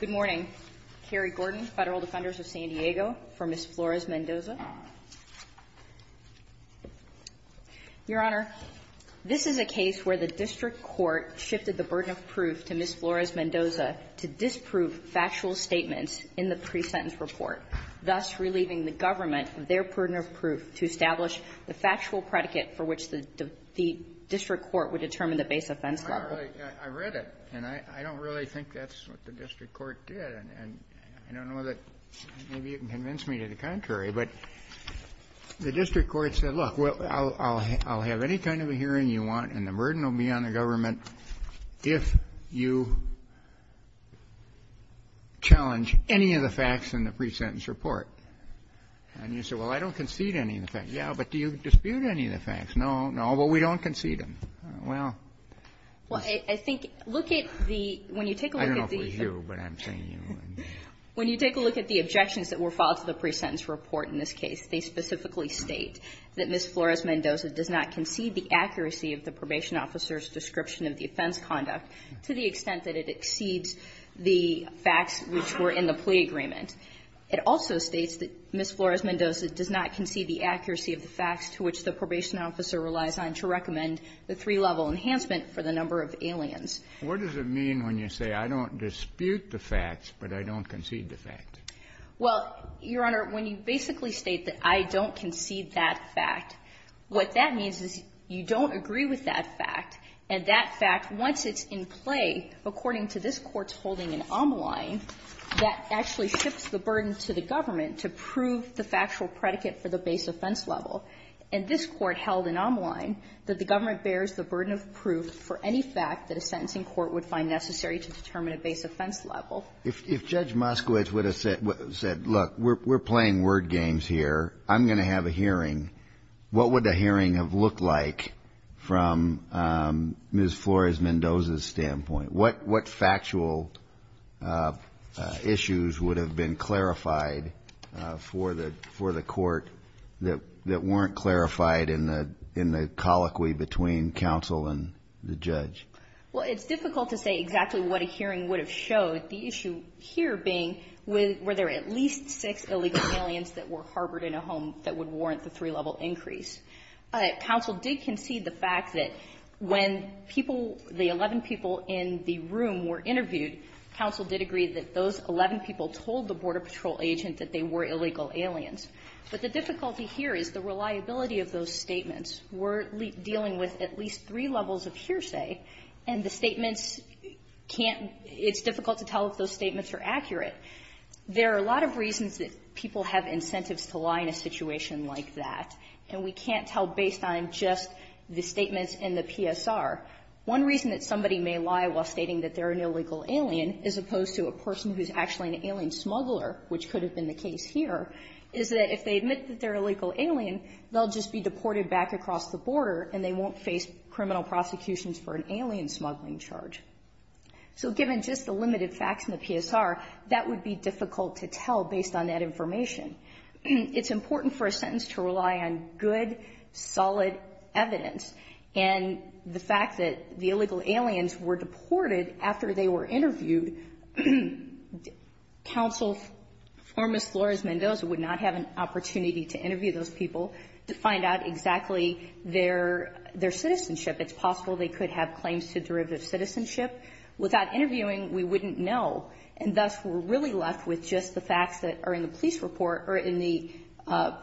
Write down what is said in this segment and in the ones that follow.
Good morning. Carrie Gordon, Federal Defenders of San Diego, for Ms. Flores-Mendoza. Your Honor, this is a case where the District Court shifted the burden of proof to Ms. Flores-Mendoza to disprove factual statements in the establish the factual predicate for which the District Court would determine the base offense level. Kennedy, I read it, and I don't really think that's what the District Court did. And I don't know that maybe you can convince me to the contrary. But the District Court said, look, I'll have any kind of a hearing you want, and the burden will be on the government if you challenge any of the facts in the pre-sentence report. And you said, well, I don't concede any of the facts. Yeah, but do you dispute any of the facts? No, no, but we don't concede them. Well, yes. Well, I think look at the – when you take a look at the – I don't know if we're you, but I'm saying you. When you take a look at the objections that were filed to the pre-sentence report in this case, they specifically state that Ms. Flores-Mendoza does not concede the accuracy of the probation officer's description of the offense conduct to the extent that it exceeds the facts which were in the plea agreement. It also states that Ms. Flores-Mendoza does not concede the accuracy of the facts to which the probation officer relies on to recommend the three-level enhancement for the number of aliens. What does it mean when you say I don't dispute the facts, but I don't concede the fact? Well, Your Honor, when you basically state that I don't concede that fact, what that means is you don't agree with that fact, and that fact, once it's in play, according to this Court's holding in Ammaline, that actually shifts the burden to the government to prove the factual predicate for the base offense level. And this Court held in Ammaline that the government bears the burden of proof for any fact that a sentencing court would find necessary to determine a base offense level. If Judge Moskowitz would have said, look, we're playing word games here, I'm going to have a hearing, what would the hearing have looked like from Ms. Flores-Mendoza's standpoint? What factual issues would have been clarified for the Court that weren't clarified in the colloquy between counsel and the judge? Well, it's difficult to say exactly what a hearing would have showed, the issue here being were there at least six illegal aliens that were harbored in a home that would warrant the three-level increase. Counsel did concede the fact that when people, the 11 people in the room were interviewed, counsel did agree that those 11 people told the Border Patrol agent that they were illegal aliens. But the difficulty here is the reliability of those statements. We're dealing with at least three levels of hearsay, and the statements can't – it's difficult to tell if those statements are accurate. There are a lot of reasons that people have incentives to lie in a situation like that, and we can't tell based on just the statements in the PSR. One reason that somebody may lie while stating that they're an illegal alien, as opposed to a person who's actually an alien smuggler, which could have been the case here, is that if they admit that they're an illegal alien, they'll just be deported back across the border and they won't face criminal prosecutions for an alien smuggling charge. So given just the limited facts in the PSR, that would be difficult to tell based on that information. It's important for a sentence to rely on good, solid evidence, and the fact that the illegal aliens were deported after they were interviewed, counsel, Formos Flores-Mendoza, would not have an opportunity to interview those people to find out exactly their citizenship. It's possible they could have claims to derivative citizenship. Without interviewing, we wouldn't know, and thus we're really left with just the police report or in the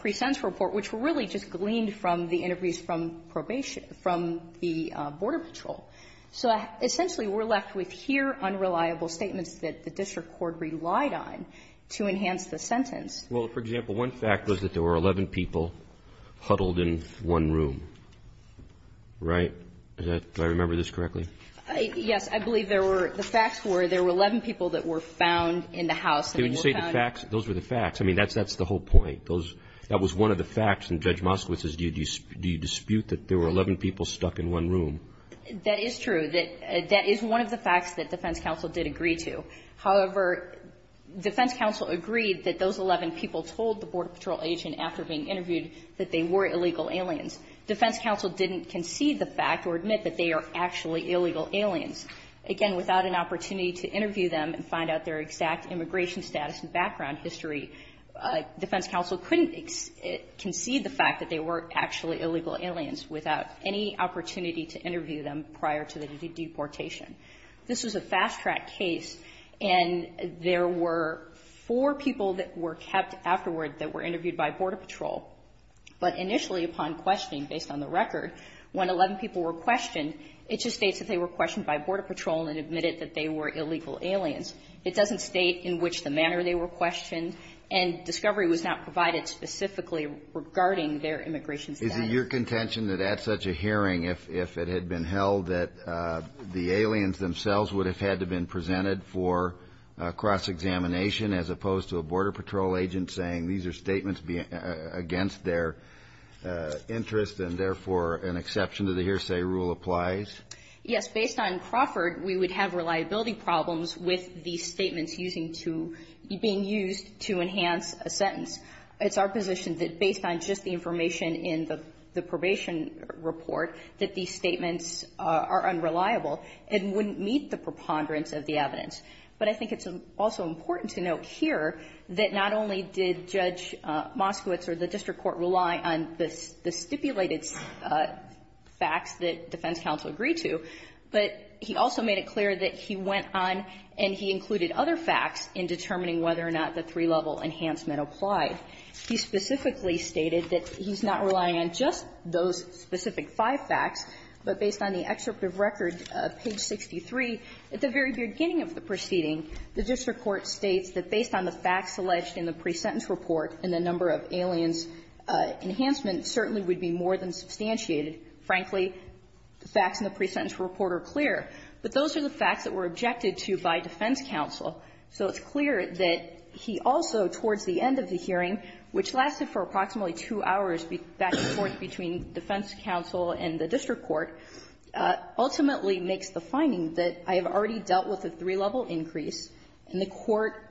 pre-sentence report, which really just gleaned from the interviews from probation, from the border patrol. So essentially we're left with here unreliable statements that the district court relied on to enhance the sentence. Well, for example, one fact was that there were 11 people huddled in one room, right? Do I remember this correctly? Yes, I believe there were the facts were there were 11 people that were found in the house. When you say the facts, those were the facts. I mean, that's that's the whole point. Those that was one of the facts. And Judge Moskowitz says, do you dispute that there were 11 people stuck in one room? That is true that that is one of the facts that defense counsel did agree to. However, defense counsel agreed that those 11 people told the border patrol agent after being interviewed that they were illegal aliens. Defense counsel didn't concede the fact or admit that they are actually illegal aliens. Again, without an opportunity to interview them and find out their exact immigration status and background history, defense counsel couldn't concede the fact that they were actually illegal aliens without any opportunity to interview them prior to the deportation. This was a fast track case, and there were four people that were kept afterward that were interviewed by border patrol. But initially, upon questioning, based on the record, when 11 people were questioned, it just states that they were questioned by border patrol and admitted that they were illegal aliens. It doesn't state in which the manner they were questioned, and discovery was not provided specifically regarding their immigration status. Is it your contention that at such a hearing, if it had been held that the aliens themselves would have had to been presented for cross-examination as opposed to a border patrol agent saying these are statements against their interest and therefore an exception to the hearsay rule applies? Yes. Based on Crawford, we would have reliability problems with these statements using to being used to enhance a sentence. It's our position that based on just the information in the probation report that these statements are unreliable and wouldn't meet the preponderance of the evidence. But I think it's also important to note here that not only did Judge Moskowitz or the district court rely on the stipulated facts that defense counsel agreed to, but he also made it clear that he went on and he included other facts in determining whether or not the three-level enhancement applied. He specifically stated that he's not relying on just those specific five facts, but based on the excerpt of record, page 63, at the very beginning of the proceeding, the district court states that based on the facts alleged in the pre-sentence report and the number of aliens enhancement certainly would be more than substantiated. Frankly, the facts in the pre-sentence report are clear, but those are the facts that were objected to by defense counsel. So it's clear that he also, towards the end of the hearing, which lasted for approximately two hours back and forth between defense counsel and the district court, ultimately makes the finding that I have already dealt with a three-level increase, and the court made it clear,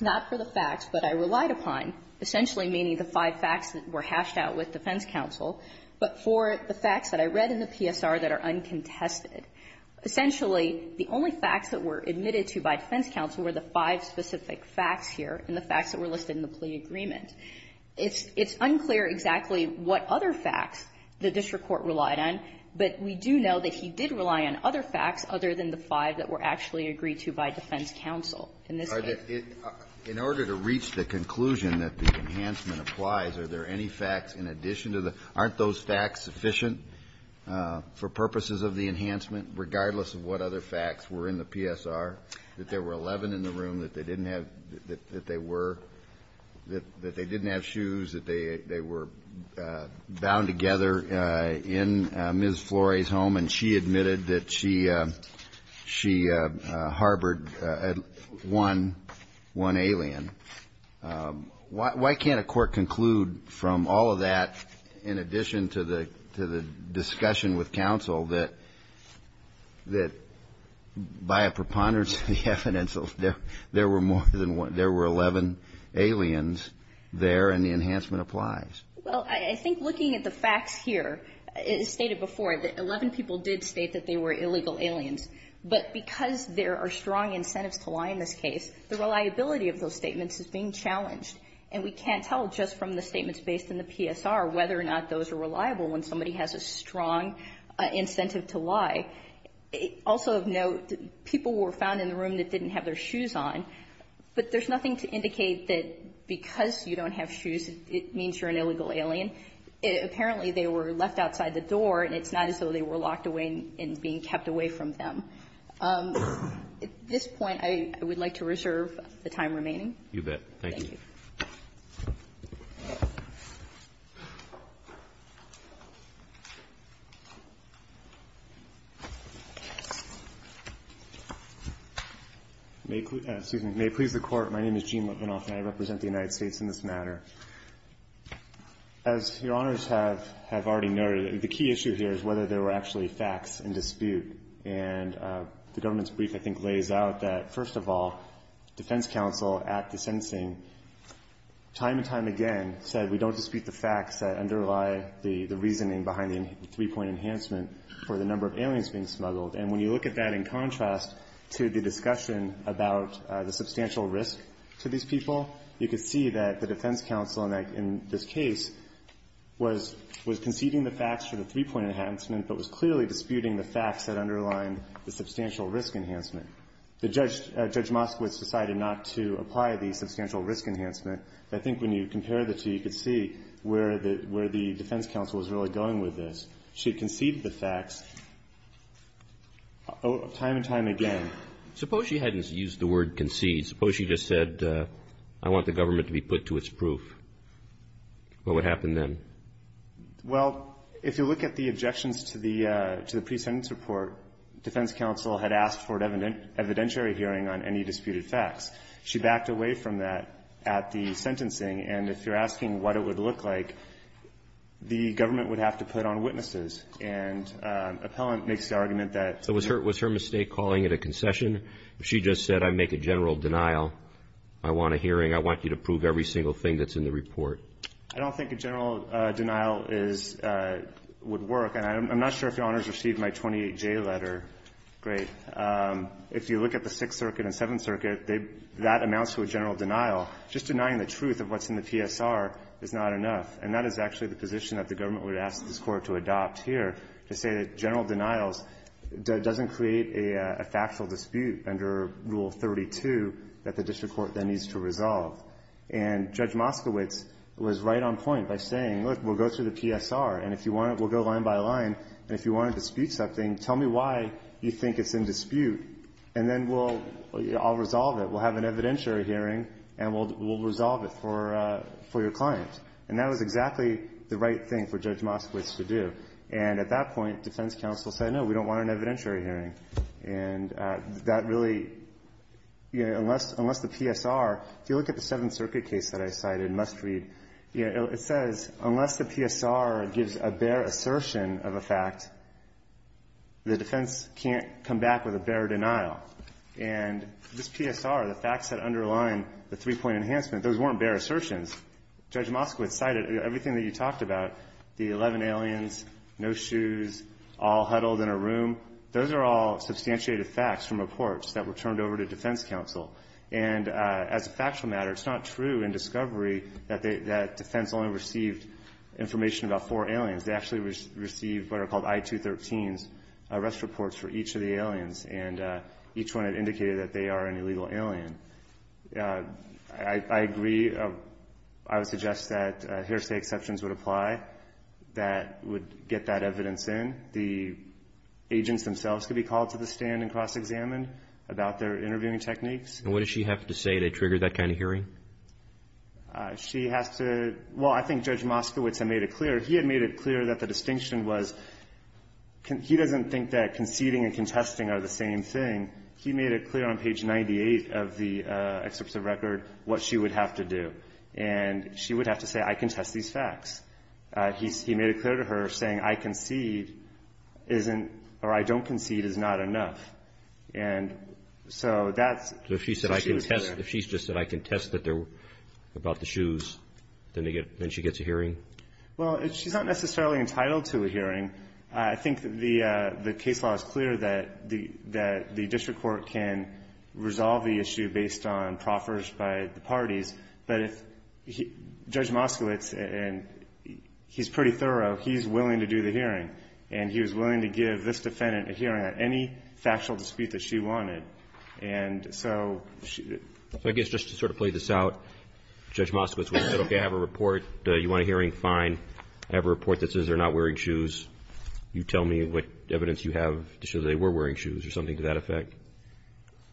not for the facts that I relied upon, essentially meaning the five facts that were hashed out with defense counsel, but for the facts that I read in the PSR that are uncontested. Essentially, the only facts that were admitted to by defense counsel were the five specific facts here and the facts that were listed in the plea agreement. It's unclear exactly what other facts the district court relied on, but we do know that he did rely on other facts other than the five that were actually agreed to by defense counsel in this case. In order to reach the conclusion that the enhancement applies, are there any facts in addition to the — aren't those facts sufficient for purposes of the enhancement, regardless of what other facts were in the PSR, that there were 11 in the room, that they didn't have — that they were — that they didn't have shoes, that they were bound together in Ms. Flory's home, and she admitted that she — she harbored one — one alien, why can't a court conclude from all of that, in addition to the — to the discussion with counsel, that — that by a preponderance of the evidence, there were more than one — there were 11 aliens there, and the enhancement applies? Well, I think looking at the facts here, as stated before, that 11 people did state that they were illegal aliens, but because there are strong incentives to lie in this case, the reliability of those statements is being challenged, and we can't tell just from the statements based in the PSR whether or not those are reliable when somebody has a strong incentive to lie. Also of note, people were found in the room that didn't have their shoes on, but there's nothing to indicate that because you don't have shoes, it means you're an illegal alien. Apparently, they were left outside the door, and it's not as though they were locked away and being kept away from them. At this point, I would like to reserve the time remaining. You bet. Thank you. Thank you. May it please the Court, my name is Gene Lipinoff, and I represent the United States in this matter. As Your Honors have already noted, the key issue here is whether there were actually facts in dispute, and the government's brief, I think, lays out that, first of all, defense counsel at the sentencing, time and time again, said we don't dispute the facts that underlie the reasoning behind the three-point enhancement for the number of aliens being smuggled. And when you look at that in contrast to the discussion about the substantial risk to these people, you can see that the defense counsel in this case was conceding the facts for the three-point enhancement, but was clearly disputing the facts that underlined the substantial risk enhancement. Judge Moskowitz decided not to apply the substantial risk enhancement. I think when you compare the two, you can see where the defense counsel was really going with this. She conceded the facts time and time again. Suppose she hadn't used the word concede. Suppose she just said, I want the government to be put to its proof. What would happen then? Well, if you look at the objections to the pre-sentence report, defense counsel had asked for an evidentiary hearing on any disputed facts. She backed away from that at the sentencing. And if you're asking what it would look like, the government would have to put on witnesses. And Appellant makes the argument that so was her was her mistake calling it a concession. If she just said, I make a general denial, I want a hearing, I want you to prove every single thing that's in the report. I don't think a general denial is – would work. And I'm not sure if Your Honors received my 28J letter. Great. If you look at the Sixth Circuit and Seventh Circuit, they – that amounts to a general denial. Just denying the truth of what's in the PSR is not enough. And that is actually the position that the government would ask this Court to adopt here, to say that general denials doesn't create a factual dispute under Rule 32 that the district court then needs to resolve. And Judge Moskowitz was right on point by saying, look, we'll go through the PSR, and if you want – we'll go line by line, and if you want to dispute something, tell me why you think it's in dispute, and then we'll – I'll resolve it. We'll have an evidentiary hearing, and we'll resolve it for your client. And that was exactly the right thing for Judge Moskowitz to do. And at that point, defense counsel said, no, we don't want an evidentiary hearing. And that really – unless the PSR – if you look at the Seventh Circuit case that I cited, Must Read, it says, unless the PSR gives a bare assertion of a fact, the defense can't come back with a bare denial. And this PSR, the facts that underline the three-point enhancement, those weren't bare assertions. Judge Moskowitz cited everything that you talked about, the 11 aliens, no shoes, all huddled in a room. Those are all substantiated facts from reports that were turned over to defense counsel. And as a factual matter, it's not true in discovery that defense only received information about four aliens. They actually received what are called I-213s, arrest reports for each of the aliens, and each one had indicated that they are an illegal alien. I agree. I would suggest that hearsay exceptions would apply that would get that evidence in. The agents themselves could be called to the stand and cross-examined about their interviewing techniques. And what does she have to say to trigger that kind of hearing? She has to – well, I think Judge Moskowitz had made it clear. He had made it clear that the distinction was – he doesn't think that conceding and contesting are the same thing. He made it clear on page 98 of the excerpt of the record what she would have to do. And she would have to say, I contest these facts. He made it clear to her saying, I concede isn't – or I don't concede is not enough. And so that's – So if she said, I contest – if she just said, I contest that they're about the shoes, then they get – then she gets a hearing? Well, she's not necessarily entitled to a hearing. I think the case law is clear that the district court can resolve the issue based on proffers by the parties. But if – Judge Moskowitz, and he's pretty thorough, he's willing to do the hearing. And he was willing to give this defendant a hearing on any factual dispute that she wanted. And so she – So I guess just to sort of play this out, Judge Moskowitz would have said, okay, I have a report. You want a hearing? Fine. I have a report that says they're not wearing shoes. You tell me what evidence you have to show that they were wearing shoes or something to that effect.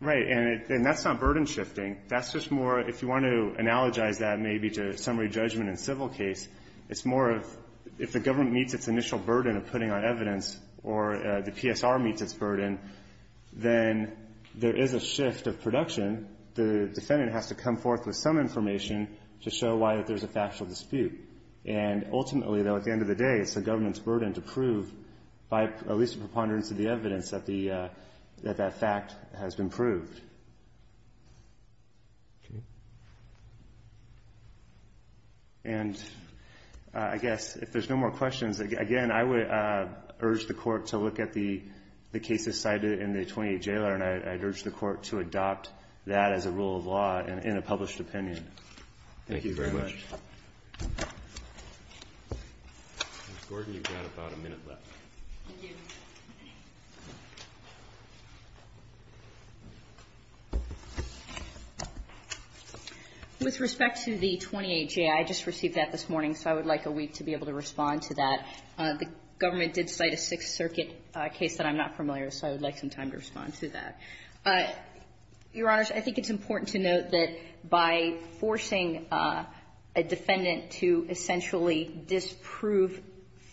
Right. And that's not burden shifting. That's just more – if you want to analogize that maybe to summary judgment in civil case, it's more of – if the government meets its initial burden of putting on evidence or the PSR meets its burden, then there is a shift of production. The defendant has to come forth with some information to show why there's a factual dispute. And ultimately, though, at the end of the day, it's the government's burden to prove by at least a preponderance of the evidence that the – that that fact has been proved. And I guess if there's no more questions, again, I would urge the Court to look at the cases cited in the 28 Jailer. And I'd urge the Court to adopt that as a rule of law in a published opinion. Thank you very much. Ms. Gordon, you've got about a minute left. Thank you. With respect to the 28 J, I just received that this morning, so I would like a week to be able to respond to that. The government did cite a Sixth Circuit case that I'm not familiar with, so I would like some time to respond to that. Your Honors, I think it's important to note that by forcing a defendant to essentially disprove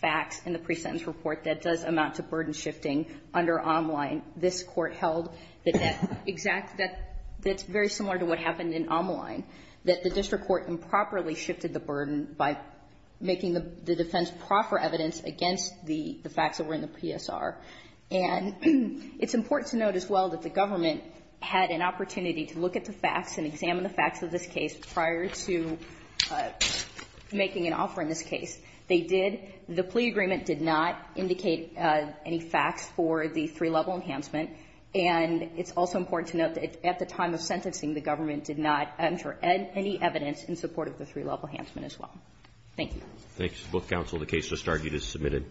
facts in the presentence report, that does amount to burden shifting under Omline. This Court held that that exact – that's very similar to what happened in Omline, that the district court improperly shifted the burden by making the defense proffer evidence against the facts that were in the PSR. And it's important to note as well that the government had an opportunity to look at the facts and examine the facts of this case prior to making an offer in this case. They did – the plea agreement did not indicate any facts for the three-level enhancement, and it's also important to note that at the time of sentencing, the government did not enter any evidence in support of the three-level enhancement as well. Thank you. Thanks, both counsel. The case just argued is submitted.